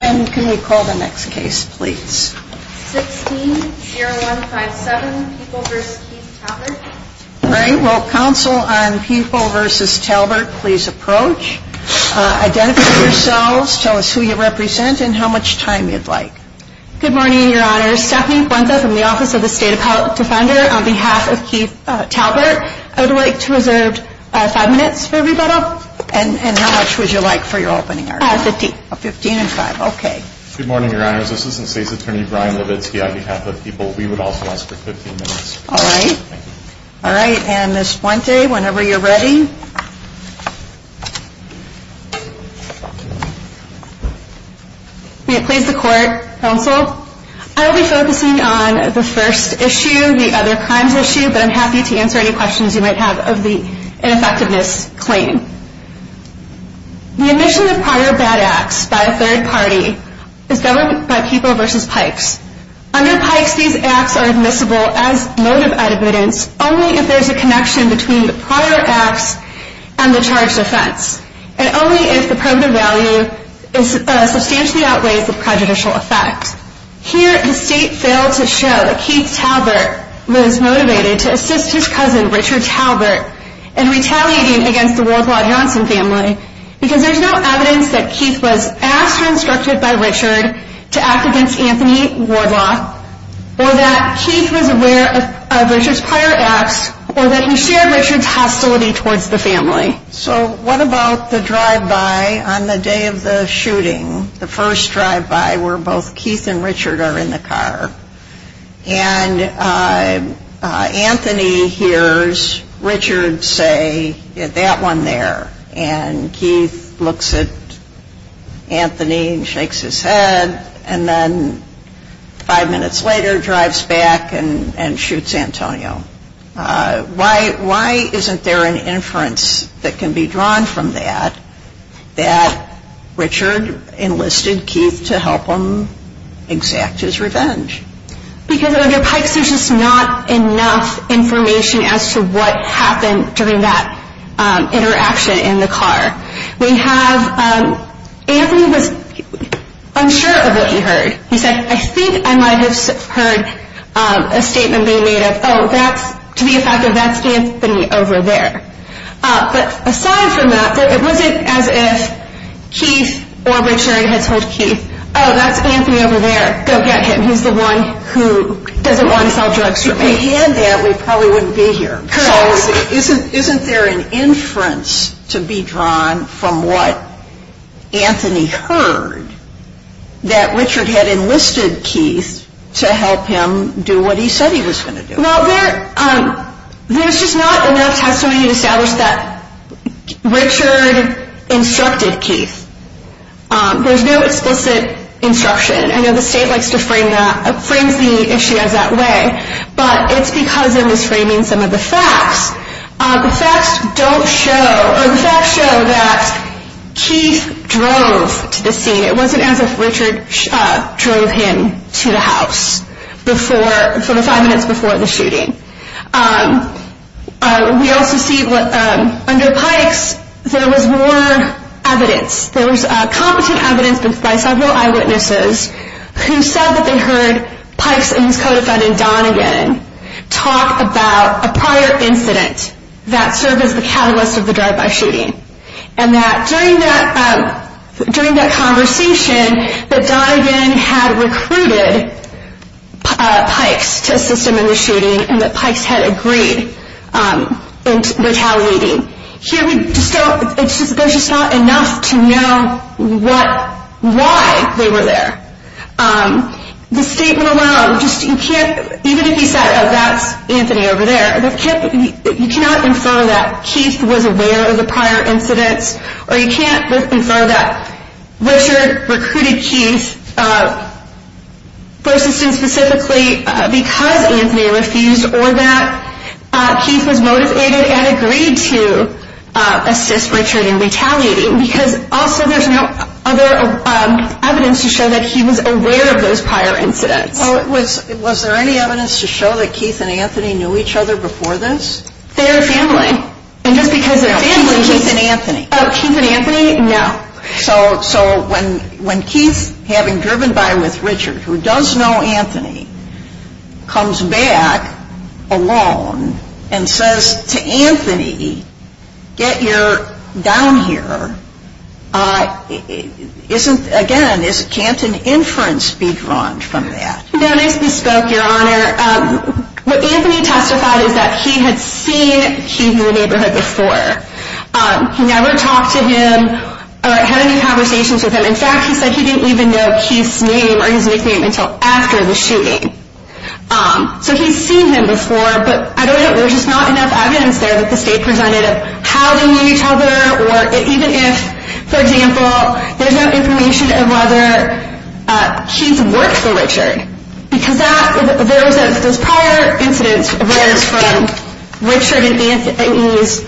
and can we call the next case please? 16-0157 People v. Keith Talbert. Great. Will counsel on People v. Talbert please approach. Identify yourselves, tell us who you represent and how much time you'd like. Good morning, Your Honor. Stephanie Fuentes from the Office of the State Defender on behalf of Keith Talbert. I would like to reserve five minutes for rebuttal. And how much would you like for your opening argument? Fifteen. Fifteen and five. Okay. Good morning, Your Honor. This is Assistant State's Attorney Brian Levitsky on behalf of People. We would also ask for fifteen minutes. All right. All right. And Ms. Fuente, whenever you're ready. May it please the Court, counsel? I will be focusing on the first issue, the other crimes issue, but I'm happy to answer any questions you might have of the ineffectiveness claim. The admission of prior bad acts by a third party is governed by People v. Pikes. Under Pikes, these acts are admissible as motive evidence only if there's a connection between the prior acts and the charged offense. And only if the probative value substantially outweighs the prejudicial effect. Here, the State failed to show that Keith Talbert was motivated to assist his cousin, Richard Talbert, in retaliating against the Wardlaw-Hanson family because there's no evidence that Keith was asked or instructed by Richard to act against Anthony Wardlaw or that Keith was aware of Richard's prior acts or that he shared Richard's hostility towards the family. So what about the drive-by on the day of the shooting, the first drive-by where both Keith and Richard are in the car, and Anthony hears Richard say, get that one there. And Keith looks at Anthony and shakes his head, and then five minutes later drives back and shoots Antonio. Why isn't there an inference that can be drawn from that that Richard enlisted Keith to help him exact his revenge? Because under Pikes, there's just not enough information as to what happened during that interaction in the car. We have Anthony was unsure of what he heard. He said, I think I might have heard a statement being made of, oh, that's, to be effective, that's Anthony over there. But aside from that, it wasn't as if Keith or Richard had told Keith, oh, that's Anthony over there. Go get him. He's the one who doesn't want to sell drugs for me. If we had that, we probably wouldn't be here. So isn't there an inference to be drawn from what Anthony heard that Richard had enlisted Keith to help him do what he said he was going to do? Well, there's just not enough testimony to establish that Richard instructed Keith. There's no explicit instruction. I know the state likes to frame that, frames the issue as that way, but it's because it was framing some of the facts. The facts don't show, or the facts show that Keith drove to the scene. It wasn't as if Richard drove him to the house for the five minutes before the shooting. We also see under Pikes, there was more evidence. There was competent evidence by several eyewitnesses who said that they heard Pikes and his co-defendant, Donagan, talk about a prior incident that served as the catalyst of the drive-by shooting. And that during that conversation, that Donagan had recruited Pikes to assist him in the shooting and that Pikes had agreed in retaliating. There's just not enough to know why they were there. The statement alone, even if you said that's Anthony over there, you cannot infer that Keith was aware of the prior incidents or you can't infer that Richard recruited Keith for assistance specifically because Anthony refused or that Keith was motivated and agreed to assist Richard in retaliating because also there's no other evidence to show that he was aware of those prior incidents. Was there any evidence to show that Keith and Anthony knew each other before this? Their family. And just because their family... Keith and Anthony. Keith and Anthony, no. So when Keith, having driven by with Richard, who does know Anthony, comes back alone and says to Anthony, get your down here, again, can't an inference be drawn from that? No, nice bespoke, your honor. What Anthony testified is that he had seen Keith in the neighborhood before. He never talked to him or had any conversations with him. In fact, he said he didn't even know Keith's name or his nickname until after the shooting. So he's seen him before, but I don't know, there's just not enough evidence there that the state presented of how they knew each other or even if, for example, there's no Because those prior incidents were from Richard and Anthony's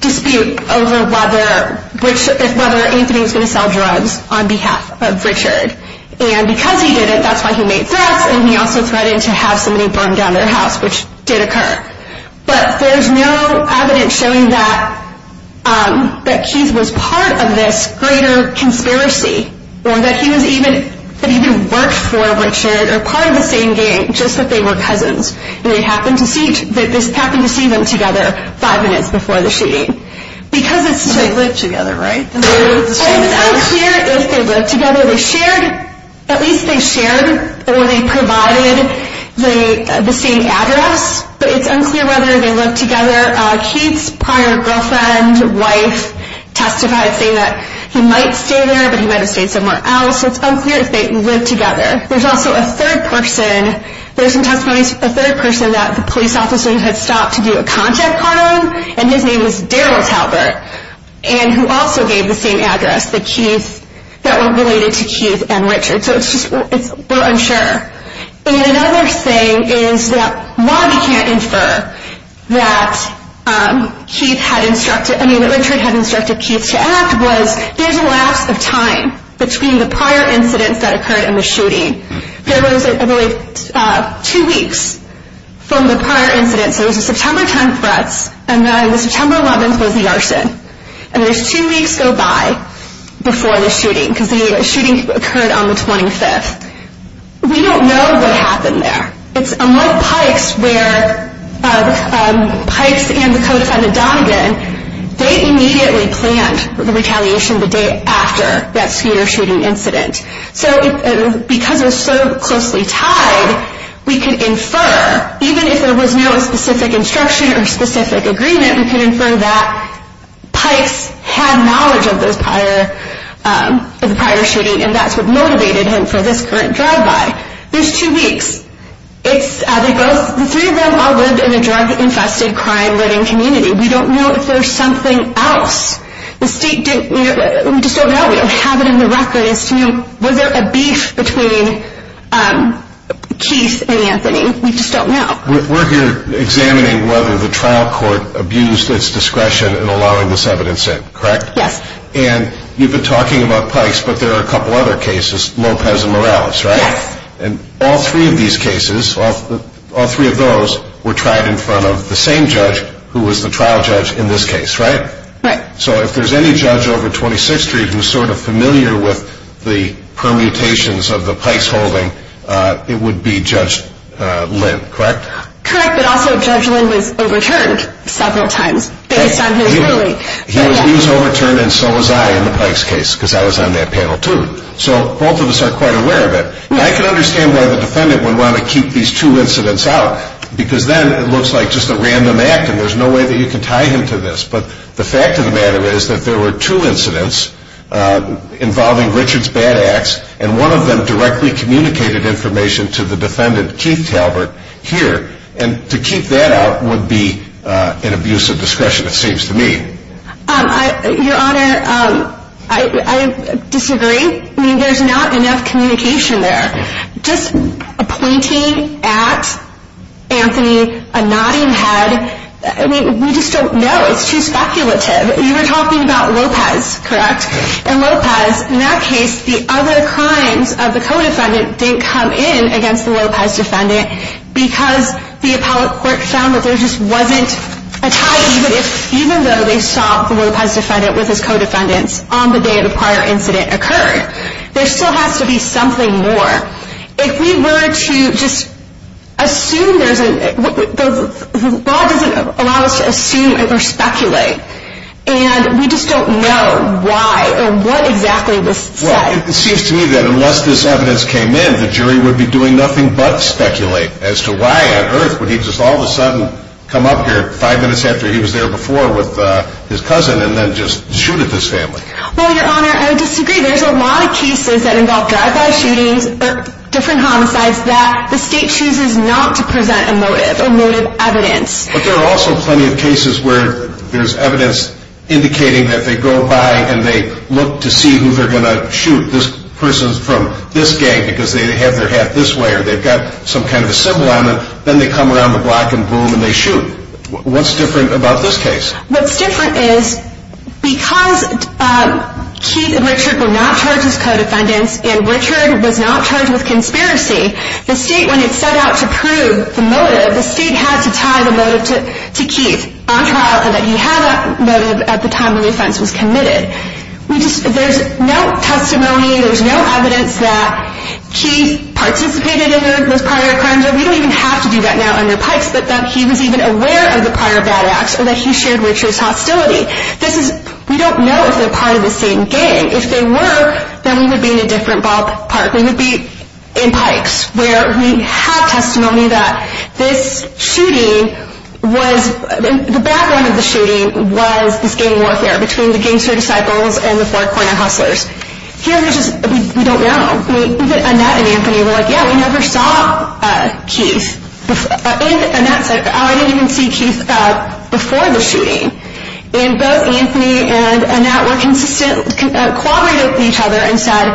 dispute over whether Anthony was going to sell drugs on behalf of Richard. And because he didn't, that's why he made threats and he also threatened to have somebody burn down their house, which did occur. But there's no evidence showing that Keith was part of this greater conspiracy or that he was even, that he even worked for Richard or part of the same gang, just that they were cousins. And they happened to see, they just happened to see them together five minutes before the shooting. Because it's... They lived together, right? It's unclear if they lived together. They shared, at least they shared or they provided the same address, but it's unclear whether they lived together. Keith's prior girlfriend, wife, testified saying that he might stay there, but he might have stayed somewhere else. So it's unclear if they lived together. There's also a third person, there's some testimonies, a third person that the police officers had stopped to do a contact on him, and his name was Daryl Talbert, and who also gave the same address, that were related to Keith and Richard. So it's just, we're unsure. And another thing is that, while we can't infer that Keith had instructed, I mean that Richard had instructed Keith to act, was there's a lapse of time between the prior incidents that occurred and the shooting. There was, I believe, two weeks from the prior incidents. There was a September 10th threats, and then the September 11th was the arson. And there's two weeks go by before the shooting, because the shooting occurred on the 25th. We don't know what happened there. It's unlike Pikes, where Pikes and the co-defendant Donegan, they immediately planned the retaliation the day after that scooter shooting incident. So because it was so closely tied, we could infer, even if there was no specific instruction or specific agreement, we could infer that Pikes had knowledge of the prior shooting, and that's what motivated him for this current drive-by. There's two weeks. The three of them all lived in a drug-infested, crime-ridden community. We don't know if there's something else. We just don't know. We don't have it in the record as to, you know, was there a beef between Keith and Anthony. We just don't know. We're here examining whether the trial court abused its discretion in allowing this evidence in, correct? Yes. And you've been talking about Pikes, but there are a couple other cases, Lopez and Morales, right? Yes. And all three of these cases, all three of those, were tried in front of the same judge who was the trial judge in this case, right? Right. So if there's any judge over at 26th Street who's sort of familiar with the permutations of the Pikes holding, it would be Judge Lynn, correct? Correct, but also Judge Lynn was overturned several times based on his ruling. He was overturned and so was I in the Pikes case, because I was on that panel too. So both of us are quite aware of it. Yes. I can understand why the defendant would want to keep these two incidents out, because then it looks like just a random act and there's no way that you can tie him to this. But the fact of the matter is that there were two incidents involving Richard's bad acts, and one of them directly communicated information to the defendant, Keith Talbert, here. And to keep that out would be an abuse of discretion, it seems to me. Your Honor, I disagree. I mean, there's not enough communication there. Just a pointing at Anthony, a nodding head, I mean, we just don't know. It's too speculative. You were saying that at times the co-defendant didn't come in against the Lopez defendant, because the appellate court found that there just wasn't a tie, even though they saw the Lopez defendant with his co-defendants on the day of the prior incident occurred. There still has to be something more. If we were to just assume there's a... the law doesn't allow us to assume or speculate. And we just don't know why or what exactly this says. Well, it seems to me that unless this evidence came in, the jury would be doing nothing but speculate as to why on earth would he just all of a sudden come up here five minutes after he was there before with his cousin and then just shoot at this family. Well, Your Honor, I would disagree. There's a lot of cases that involve drive-by shootings or different homicides that the state chooses not to present a motive or motive evidence. But there are also plenty of cases where there's evidence indicating that they go by and they look to see who they're going to shoot. This person's from this gang because they have their hat this way or they've got some kind of a symbol on them. Then they come around the block and boom, and they shoot. What's different about this case? What's different is because Keith and Richard were not charged as co-defendants and Richard was not charged with conspiracy, the state, when it set out to prove the motive, the state had to tie the motive to Keith on trial and that he had that motive at the time when the there's no testimony, there's no evidence that Keith participated in those prior crimes or we don't even have to do that now under Pikes, that he was even aware of the prior bad acts or that he shared Richard's hostility. This is, we don't know if they're part of the same gang. If they were, then we would be in a different ballpark. We would be in Pikes where we had testimony that this shooting was, the background of the shooting was this gang warfare between the Gangster Disciples and the Four Corner Hustlers. Here, we just, we don't know. Annette and Anthony were like, yeah, we never saw Keith. Annette said, oh, I didn't even see Keith before the shooting. And both Anthony and Annette were consistent, cooperated with each other and said,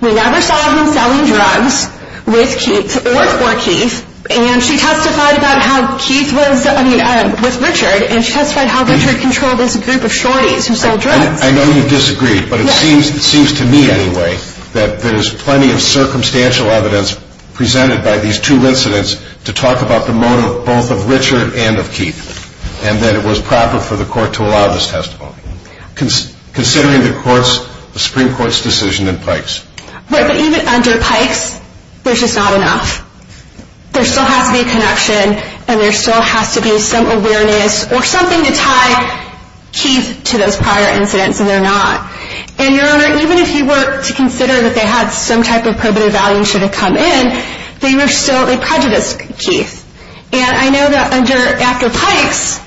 we never saw him selling drugs with Keith or for Keith. And she testified about how Keith was, I mean, with Richard and she testified how Richard controlled this group of shorties who sold drugs. I know you disagree, but it seems to me anyway that there's plenty of circumstantial evidence presented by these two incidents to talk about the motive both of Richard and of Keith and that it was proper for the court to allow this testimony. Considering the Supreme Court's decision in Pikes. Right, but even under Pikes, there's just not enough. There still has to be a connection and there still has to be some awareness or something to tie Keith to those prior incidents and they're not. And, Your Honor, even if you were to consider that they had some type of probative value and should have come in, they were still a prejudiced Keith. And I know that under after Pikes,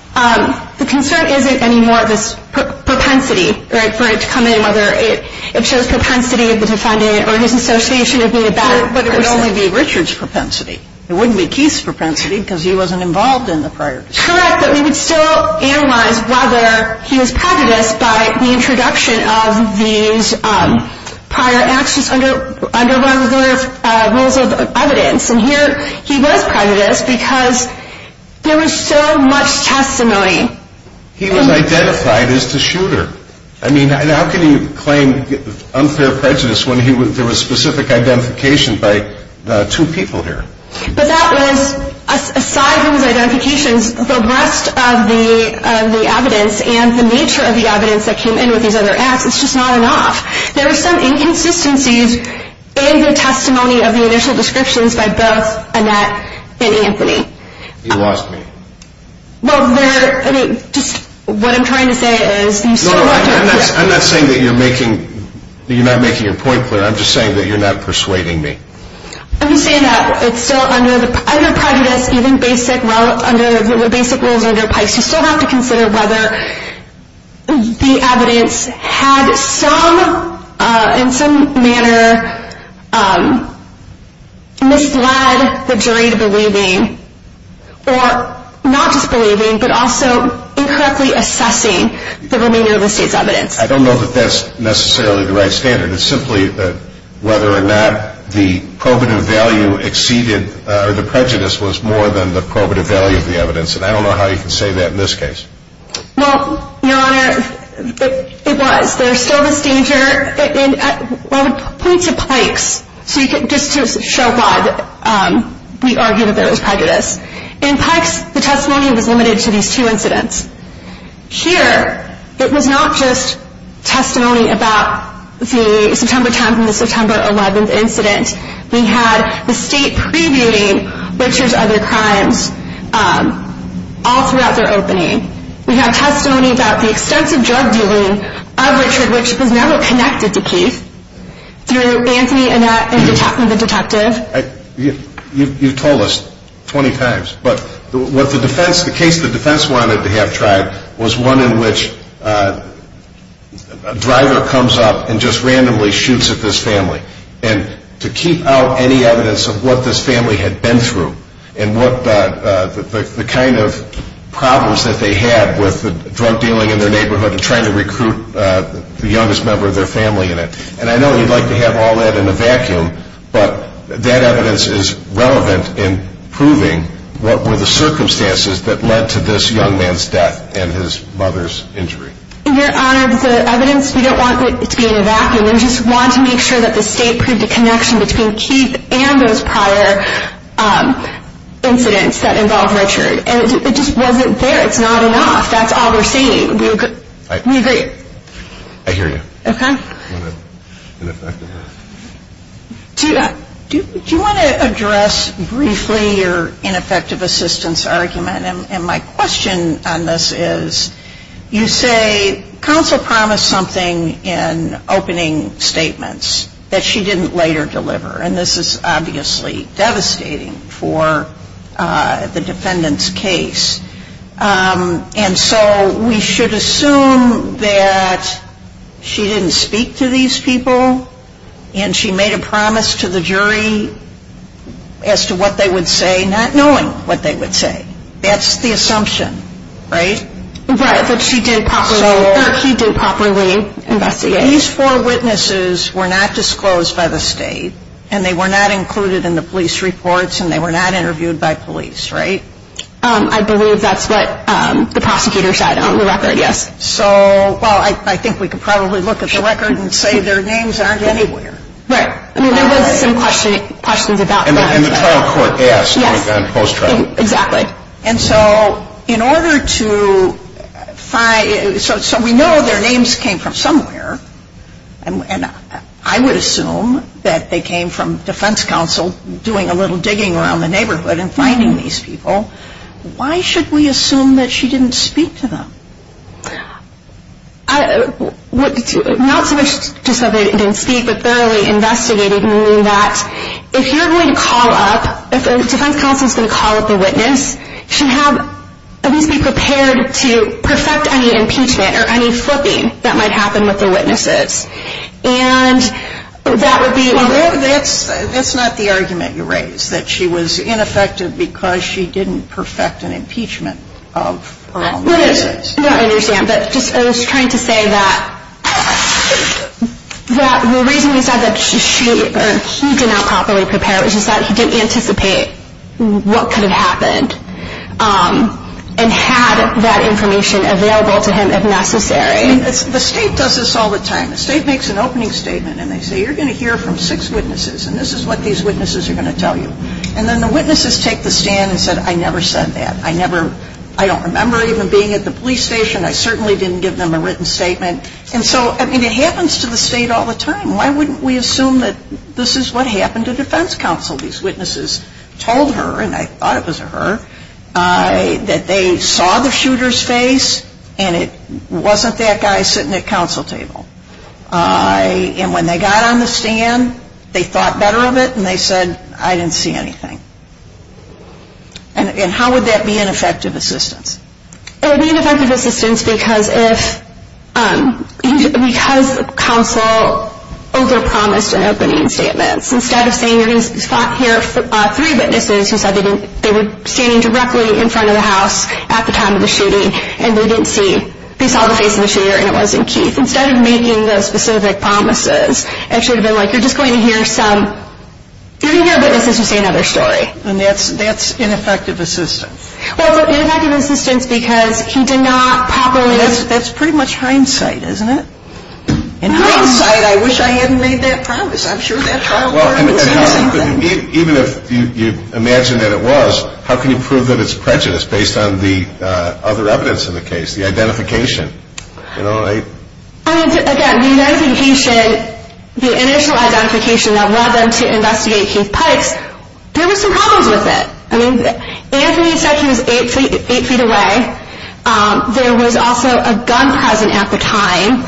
the concern isn't anymore this propensity, right, for it to come in, whether it shows propensity of the defendant or his association of being a bad person. But it would only be Richard's propensity. It wouldn't be Keith's propensity because he wasn't involved in the prior. Correct, but we would still analyze whether he was prejudiced by the introduction of these prior actions under one of the rules of evidence. And here he was prejudiced because there was so much testimony. He was identified as the shooter. I mean, how can you claim unfair prejudice when there was specific identification by two people here? But that was, aside from his identifications, the rest of the evidence and the nature of the evidence that came in with these other acts, it's just not enough. There were some inconsistencies in the testimony of the initial descriptions by both Annette and Anthony. You lost me. Well, there, I mean, just what I'm trying to say is... No, I'm not saying that you're making, you're not making your point clear. I'm just saying that you're not persuading me. I'm just saying that it's still under prejudice, even basic rules under Pikes, you still have to consider whether the evidence had some, in some manner, misled the jury to believing, or not just believing, but also incorrectly assessing the remainder of the state's evidence. I don't know that that's necessarily the right standard. It's simply whether or not the probative value exceeded, or the prejudice was more than the probative value of the evidence. And I don't know how you can say that in this case. Well, just to show why we argue that there was prejudice. In Pikes, the testimony was limited to these two incidents. Here, it was not just testimony about the September 10th and the September 11th incident. We had the state previewing Richard's other crimes all throughout their opening. We had testimony about the extensive drug dealing of Richard, which was never connected to Keith, through Anthony and the detective. You've told us 20 times, but what the defense, the case the defense wanted to have tried was one in which a driver comes up and just randomly shoots at this family. And to keep out any evidence of what this family had been through, and what the kind of problems that they had with the drug dealing in their neighborhood and trying to recruit the youngest member of their family in it. And I know you'd like to have all that in a vacuum, but that evidence is relevant in proving what were the circumstances that led to this young man's death and his mother's injury. Your Honor, the evidence, we don't want it to be in a vacuum. We just want to make sure that the state proved a connection between Keith and those prior incidents that involved I agree. I hear you. Okay. Do you want to address briefly your ineffective assistance argument? And my question on this is you say counsel promised something in opening statements that she didn't later deliver. And this is obviously devastating for the defendant's case. And so we should assume that she didn't speak to these people and she made a promise to the jury as to what they would say, not knowing what they would say. That's the assumption, right? Right, that she did properly investigate. These four witnesses were not disclosed by the state and they were not included in the police reports and they were not interviewed by police, right? I believe that's what the prosecutor said on the record, yes. So, well, I think we could probably look at the record and say their names aren't anywhere. Right. There was some questions about that. And the trial court asked on post-trial. Exactly. And so in order to find, so we know their names came from somewhere. And I would assume that they came from defense counsel doing a little digging around the neighborhood and finding these people. Why should we assume that she didn't speak to them? Not so much just that they didn't speak, but thoroughly investigated, meaning that if you're going to call up, if a defense counsel is going to call up a witness, she should have at least be prepared to perfect any impeachment or any flipping that might happen with the witnesses. And that would be. That's not the argument you raised, that she was ineffective because she didn't perfect an impeachment of her own witnesses. I understand, but I was just trying to say that the reason we said that she did not properly prepare was just that he didn't anticipate what could have happened and had that information available to him if necessary. I mean, the state does this all the time. The state makes an opening statement and they say, you're going to hear from six witnesses, and this is what these witnesses are going to tell you. And then the witnesses take the stand and say, I never said that. I never, I don't remember even being at the police station. I certainly didn't give them a written statement. And so, I mean, it happens to the state all the time. Why wouldn't we assume that this is what happened to defense counsel? These witnesses told her, and I thought it was her, that they saw the shooter's face and it wasn't that guy sitting at counsel table. And when they got on the stand, they thought better of it and they said, I didn't see anything. And how would that be ineffective assistance? It would be ineffective assistance because counsel overpromised in opening statements. Instead of saying, you're going to spot here three witnesses who said they were standing directly in front of the house at the time of the shooting and they didn't see, they saw the face of the shooter and it wasn't Keith. Instead of making those specific promises, it should have been like, you're just going to hear some, you're going to hear witnesses who say another story. And that's ineffective assistance. Well, it's ineffective assistance because he did not properly... That's pretty much hindsight, isn't it? In hindsight, I wish I hadn't made that promise. I'm sure that trial court would have said the same thing. Even if you imagine that it was, how can you prove that it's prejudice based on the other evidence in the case, the identification? I mean, again, the initial identification that led them to investigate Keith Pikes, there were some problems with it. Anthony said he was eight feet away. There was also a gun present at the time.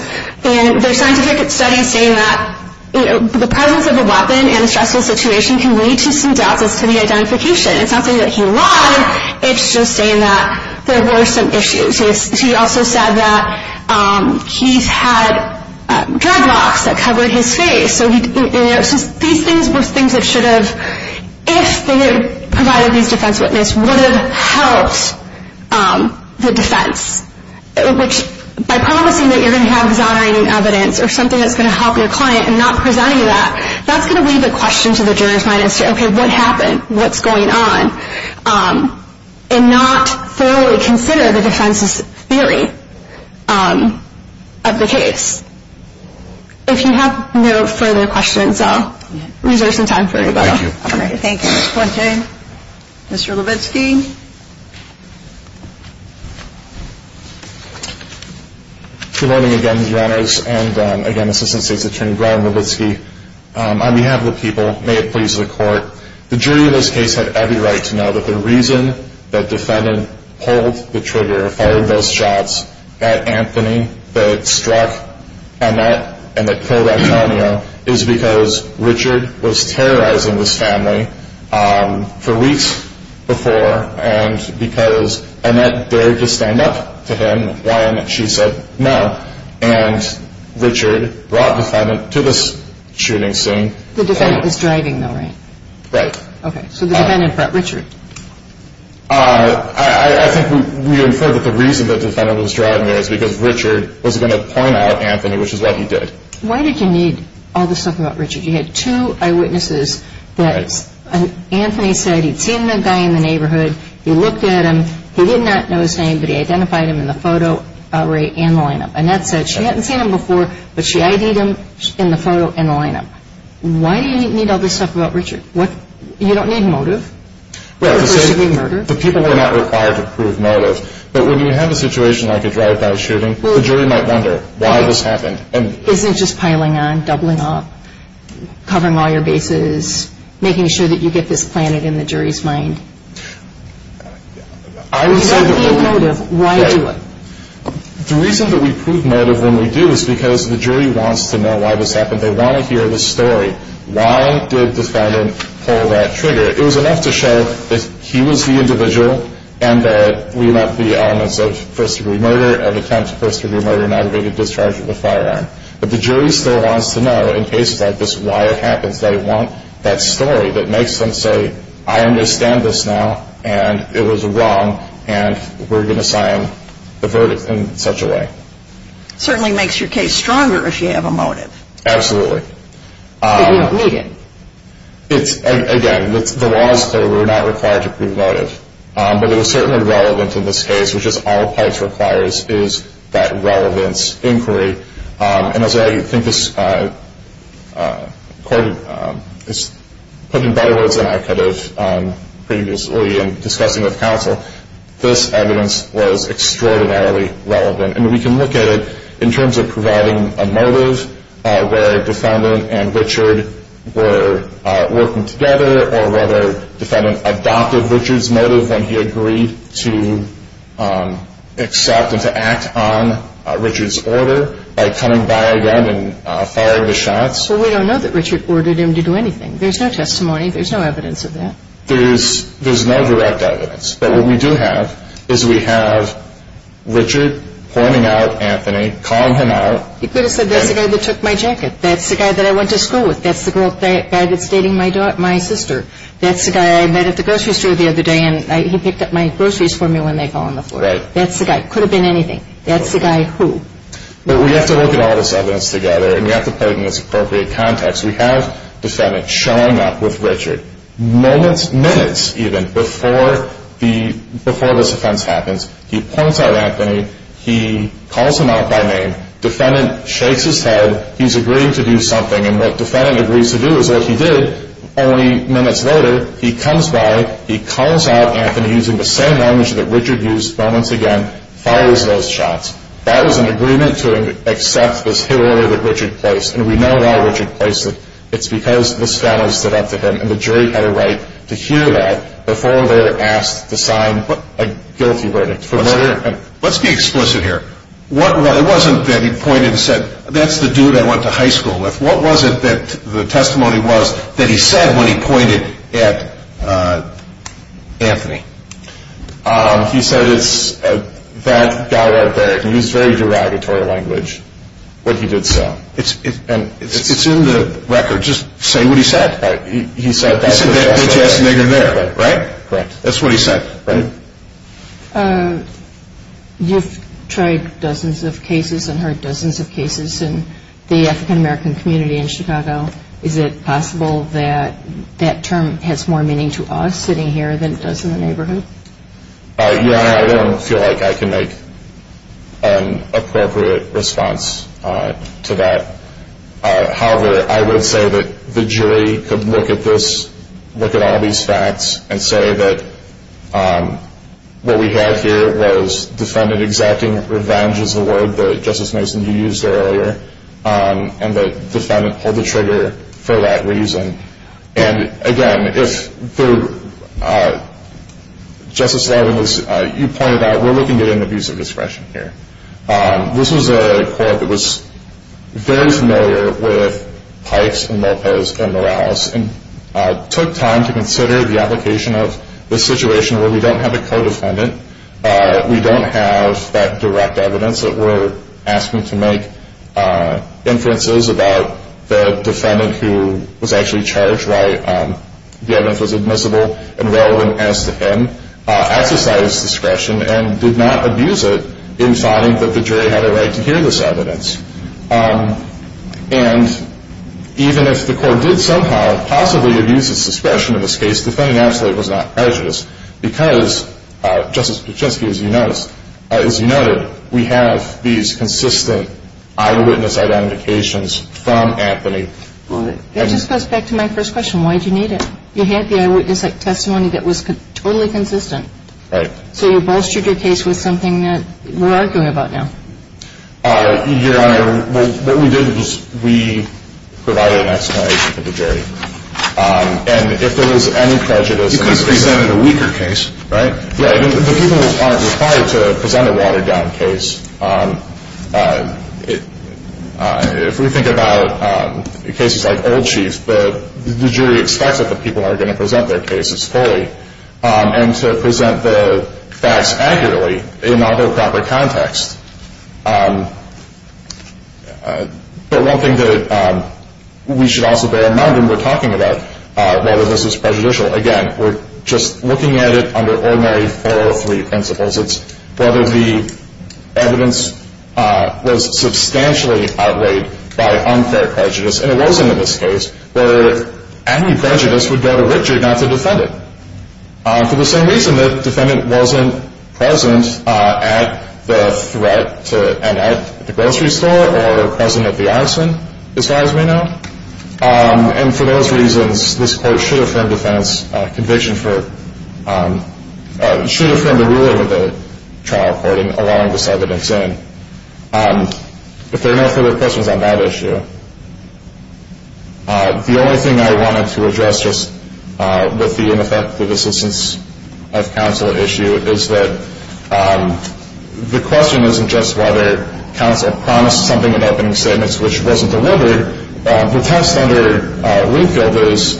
And there's scientific studies saying that the presence of a weapon in a stressful situation can lead to some doubts as to the identification. It's not saying that he lied, it's just saying that there were some issues. He also said that Keith had dreadlocks that covered his face. These things were things that should have, if they had provided these defense witnesses, would have helped the defense. Which, by promising that you're going to have exonerating evidence or something that's going to help your client and not presenting that, that's going to leave a question to the jurors' mind as to, okay, what happened? What's going on? And not thoroughly consider the defense's theory of the case. If you have no further questions, I'll reserve some time for you both. Thank you. Thank you, Ms. Quinton. Mr. Levitsky. Good morning again, Your Honors, and again, Assistant State's Attorney Brian Levitsky. On behalf of the people, may it please the Court, the jury in this case had every right to know that the reason that defendant pulled the trigger or fired those shots at Anthony that struck Annette and that killed Antonio is because Richard was terrorizing this family for weeks before and because Annette dared to stand up to him while she said no, and Richard brought defendant to this shooting scene. The defendant was driving, though, right? Right. Okay, so the defendant brought Richard. I think we infer that the reason the defendant was driving there is because Richard was going to point out Anthony, which is what he did. Why did you need all this stuff about Richard? You had two eyewitnesses that Anthony said he'd seen the guy in the neighborhood, he looked at him, he did not know his name, but he identified him in the photo array and the lineup. Annette said she hadn't seen him before, but she ID'd him in the photo and the lineup. Why do you need all this stuff about Richard? You don't need motive. The people were not required to prove motive, but when you have a situation like a drive-by shooting, the jury might wonder why this happened. Isn't it just piling on, doubling up, covering all your bases, making sure that you get this planted in the jury's mind? If you don't need motive, why do it? The reason that we prove motive when we do is because the jury wants to know why this happened. They want to hear the story. Why did the defendant pull that trigger? It was enough to show that he was the individual and that we let the elements of first-degree murder and attempts of first-degree murder not have been discharged with a firearm. But the jury still wants to know, in cases like this, why it happens. They want that story that makes them say, I understand this now and it was wrong and we're going to sign the verdict in such a way. It certainly makes your case stronger if you have a motive. Absolutely. But you don't need it. Again, the law is clear. We're not required to prove motive. But it is certainly relevant in this case, which is all PIPES requires is that relevance inquiry. And as I think this court has put in better words than I could have previously in discussing with counsel, this evidence was extraordinarily relevant. And we can look at it in terms of providing a motive where a defendant and Richard were working together or whether a defendant adopted Richard's motive when he agreed to accept and to act on Richard's order by coming by again and firing the shots. But we don't know that Richard ordered him to do anything. There's no testimony. There's no evidence of that. There's no direct evidence. But what we do have is we have Richard pointing out Anthony, calling him out. You could have said that's the guy that took my jacket. That's the guy that I went to school with. That's the guy that's dating my sister. That's the guy I met at the grocery store the other day, and he picked up my groceries for me when they fell on the floor. That's the guy. It could have been anything. That's the guy who. But we have to look at all this evidence together, and we have to put it in this appropriate context. We have a defendant showing up with Richard, moments, minutes even, before this offense happens. He points out Anthony. He calls him out by name. Defendant shakes his head. He's agreeing to do something, and what defendant agrees to do is what he did only minutes later. He comes by. He calls out Anthony using the same language that Richard used moments again, fires those shots. That was an agreement to accept this hit order that Richard placed, and we know why Richard placed it. It's because this felon stood up to him, and the jury had a right to hear that before they were asked to sign a guilty verdict. Let's be explicit here. It wasn't that he pointed and said, that's the dude I went to high school with. What was it that the testimony was that he said when he pointed at Anthony? He said it's that guy right there. He used very derogatory language when he did so. It's in the record. Just say what he said. He said that. He said that bitch-ass nigger there, right? Correct. That's what he said, right? You've tried dozens of cases and heard dozens of cases in the African-American community in Chicago. Is it possible that that term has more meaning to us sitting here than it does in the neighborhood? Yeah, I don't feel like I can make an appropriate response to that. However, I would say that the jury could look at this, look at all these facts, and say that what we have here was defendant exacting revenge is the word that Justice Mason, you used earlier, and the defendant pulled the trigger for that reason. And, again, if Justice Larvin, as you pointed out, we're looking at an abuse of discretion here. This was a court that was very familiar with Pikes and Lopez and Morales. It took time to consider the application of this situation where we don't have a co-defendant, we don't have that direct evidence that we're asking to make inferences about the defendant who was actually charged, why the evidence was admissible and relevant as to him, exercised discretion and did not abuse it in finding that the jury had a right to hear this evidence. And even if the court did somehow possibly abuse his discretion in this case, the defendant absolutely was not prejudiced because, Justice Picheski, as you noted, we have these consistent eyewitness identifications from Anthony. That just goes back to my first question. Why did you need it? You had the eyewitness testimony that was totally consistent. Right. So you bolstered your case with something that we're arguing about now. Your Honor, what we did was we provided an explanation to the jury. And if there was any prejudice, You could have presented a weaker case, right? Yeah. The people aren't required to present a watered-down case. If we think about cases like Old Chief, the jury expects that the people are going to present their cases fully and to present the facts accurately in all the proper context. But one thing that we should also bear in mind when we're talking about whether this is prejudicial, again, we're just looking at it under ordinary 403 principles. It's whether the evidence was substantially outweighed by unfair prejudice. And it wasn't in this case where any prejudice would go to Richard, not the defendant. For the same reason that the defendant wasn't present at the threat and at the grocery store or present at the ice rink, as far as we know. And for those reasons, this Court should affirm defense conviction for, should affirm the ruling of the trial court in allowing this evidence in. If there are no further questions on that issue, the only thing I wanted to address just with the ineffective assistance of counsel issue is that the question isn't just whether counsel promised something in opening statements, which wasn't delivered. The test under Linfield is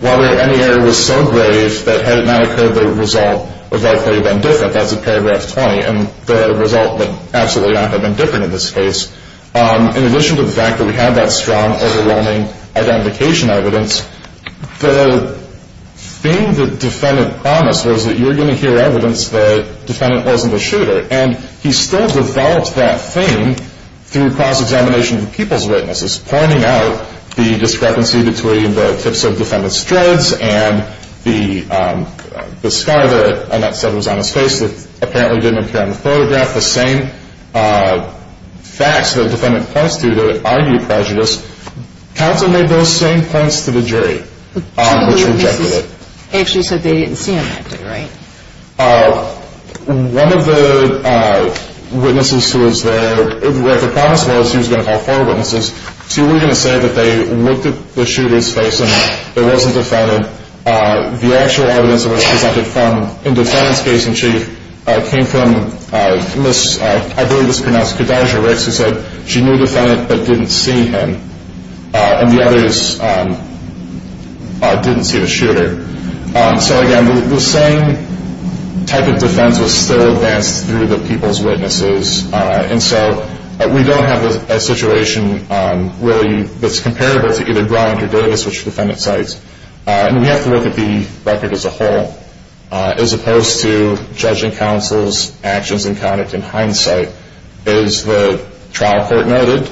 whether any error was so grave that had it not occurred, the result would likely have been different. That's in paragraph 20. And the result would absolutely not have been different in this case. In addition to the fact that we have that strong, overwhelming identification evidence, the thing that the defendant promised was that you're going to hear evidence that the defendant wasn't a shooter. And he still developed that thing through cross-examination of the people's witnesses, pointing out the discrepancy between the tips of the defendant's dreads and the scar that Annette said was on his face that apparently didn't appear in the photograph. The same facts that the defendant points to that argue prejudice, counsel made those same points to the jury, which rejected it. Actually said they didn't see him acting, right? One of the witnesses who was there, where the promise was he was going to call four witnesses, two were going to say that they looked at the shooter's face and it wasn't the defendant. The actual evidence that was presented in the defendant's case in chief came from Ms. I believe it was pronounced Kadijah Ricks, who said she knew the defendant but didn't see him. And the others didn't see the shooter. So, again, the same type of defense was still advanced through the people's witnesses. And so we don't have a situation really that's comparable to either Bryant or Davis, which are defendant's sites. And we have to look at the record as a whole, as opposed to judging counsel's actions and conduct in hindsight. Is the trial court noted?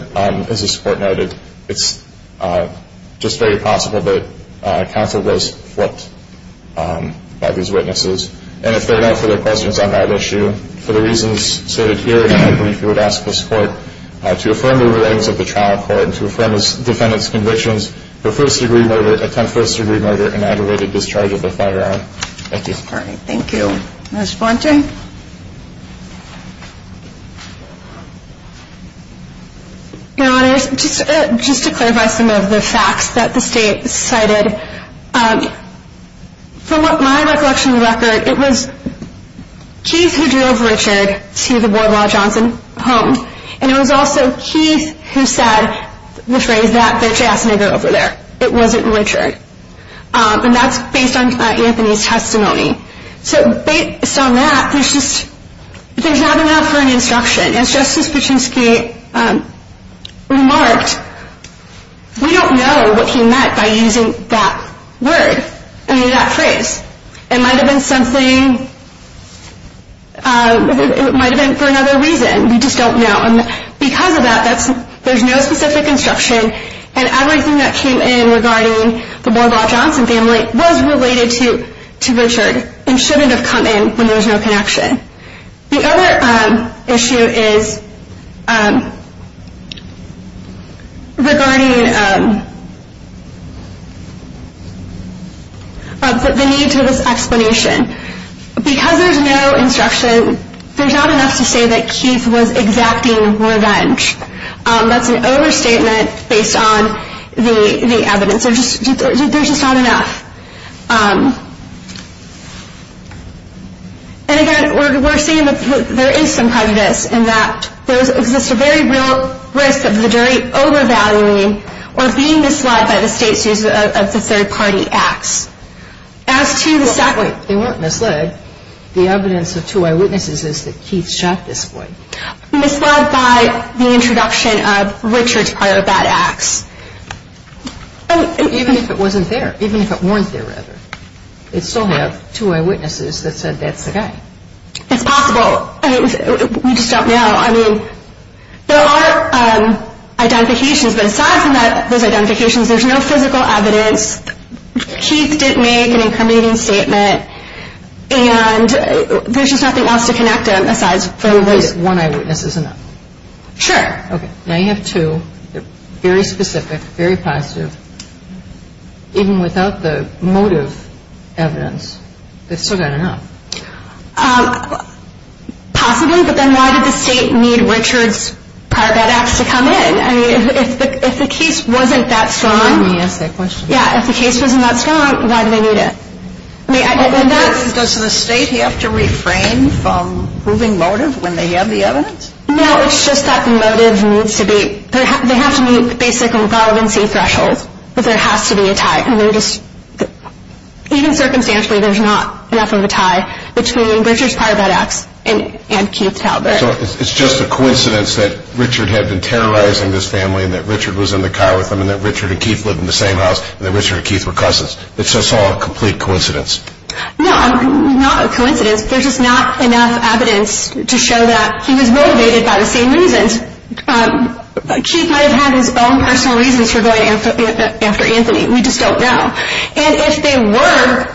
Is the support noted? It's just very possible that counsel was flipped by these witnesses. And if there are no further questions on that issue, for the reasons stated here, I believe you would ask this court to affirm the rulings of the trial court, to affirm the defendant's convictions, for first degree murder, attempt first degree murder, and aggravated discharge of the firearm. Thank you. Thank you. Ms. Blounte? Your Honors, just to clarify some of the facts that the state cited, from what my recollection of the record, it was Keith who drove Richard to the Boardwall Johnson home. And it was also Keith who said the phrase that the jazz nigger over there. It wasn't Richard. And that's based on Anthony's testimony. So based on that, there's just not enough for an instruction. As Justice Pichinsky remarked, we don't know what he meant by using that word, I mean that phrase. It might have been something, it might have been for another reason. We just don't know. And because of that, there's no specific instruction, and everything that came in regarding the Boardwall Johnson family was related to Richard and shouldn't have come in when there was no connection. The other issue is regarding the need for this explanation. Because there's no instruction, there's not enough to say that Keith was exacting revenge. That's an overstatement based on the evidence. There's just not enough. And, again, we're seeing that there is some prejudice in that there exists a very real risk of the jury overvaluing or being misled by the state's use of the third-party acts. As to the second point. They weren't misled. The evidence of two eyewitnesses is that Keith shot this boy. Misled by the introduction of Richard's prior bad acts. Even if it wasn't there. Even if it weren't there, rather. They still have two eyewitnesses that said that's the guy. It's possible. We just don't know. I mean, there are identifications, but aside from those identifications, there's no physical evidence. Keith didn't make an incriminating statement. And there's just nothing else to connect him, aside from this. At least one eyewitness is enough. Sure. Now you have two. They're very specific, very positive. Even without the motive evidence, they've still got enough. Possibly, but then why did the state need Richard's prior bad acts to come in? I mean, if the case wasn't that strong. Let me ask that question. Yeah, if the case wasn't that strong, why did they need it? Does the state have to refrain from proving motive when they have the evidence? No, it's just that the motive needs to be. They have to meet basic relevancy thresholds, but there has to be a tie. And even circumstantially, there's not enough of a tie between Richard's prior bad acts and Keith Talbert. So it's just a coincidence that Richard had been terrorizing his family and that Richard was in the car with them and that Richard and Keith lived in the same house and that Richard and Keith were cousins. It's just all a complete coincidence. No, not a coincidence. There's just not enough evidence to show that he was motivated by the same reasons. And Keith might have had his own personal reasons for going after Anthony. We just don't know. And if they were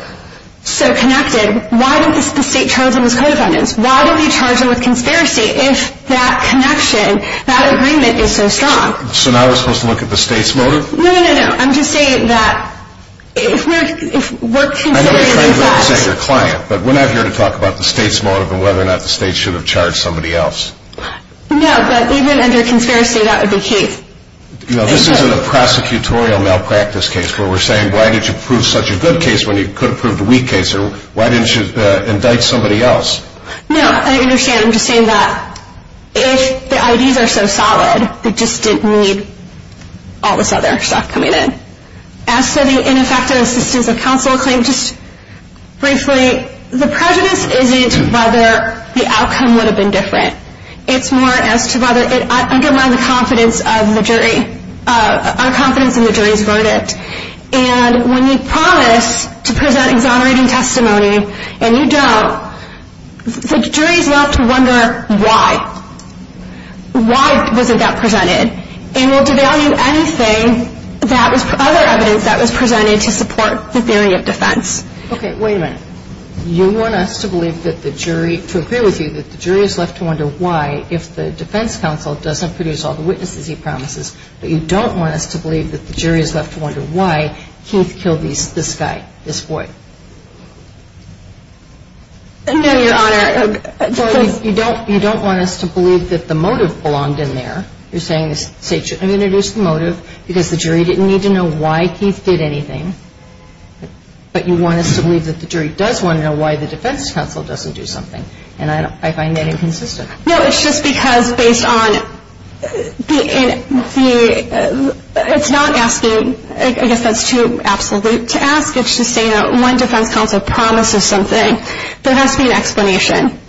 so connected, why didn't the state charge them as co-defendants? Why didn't they charge them with conspiracy if that connection, that agreement, is so strong? So now we're supposed to look at the state's motive? No, no, no, no. I'm just saying that if we're considering it in fact... I know you're trying to look at your client, but we're not here to talk about the state's motive and whether or not the state should have charged somebody else. No, but even under conspiracy, that would be Keith. No, this isn't a prosecutorial malpractice case where we're saying why did you prove such a good case when you could have proved a weak case? Or why didn't you indict somebody else? No, I understand. I'm just saying that if the IDs are so solid, they just didn't need all this other stuff coming in. As for the ineffective assistance of counsel claim, just briefly, the prejudice isn't whether the outcome would have been different. It's more as to whether it undermined the confidence of the jury, our confidence in the jury's verdict. And when you promise to present exonerating testimony and you don't, the juries love to wonder why. Why wasn't that presented? And we'll devalue anything, other evidence that was presented to support the theory of defense. Okay, wait a minute. You want us to believe that the jury, to agree with you, that the jury is left to wonder why if the defense counsel doesn't produce all the witnesses he promises, but you don't want us to believe that the jury is left to wonder why Keith killed this guy, this boy? No, Your Honor. You don't want us to believe that the motive belonged in there. You're saying the state shouldn't have introduced the motive because the jury didn't need to know why Keith did anything. But you want us to believe that the jury does want to know why the defense counsel doesn't do something. And I find that inconsistent. No, it's just because based on the – it's not asking – I guess that's too absolute to ask. It's just saying that when defense counsel promises something, there has to be an explanation.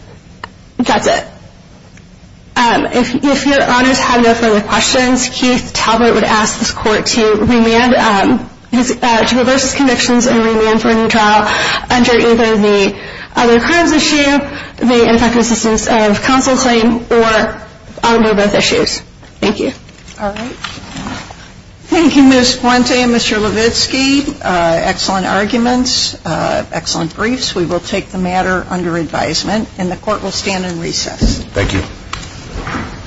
That's it. If Your Honors have no further questions, Keith Talbert would ask this Court to reverse his convictions and remand for a new trial under either the other crimes issue, the ineffective assistance of counsel claim, or under both issues. Thank you. All right. Thank you, Ms. Fuente and Mr. Levitsky. Excellent arguments. Excellent briefs. We will take the matter under advisement, and the Court will stand in recess. Thank you.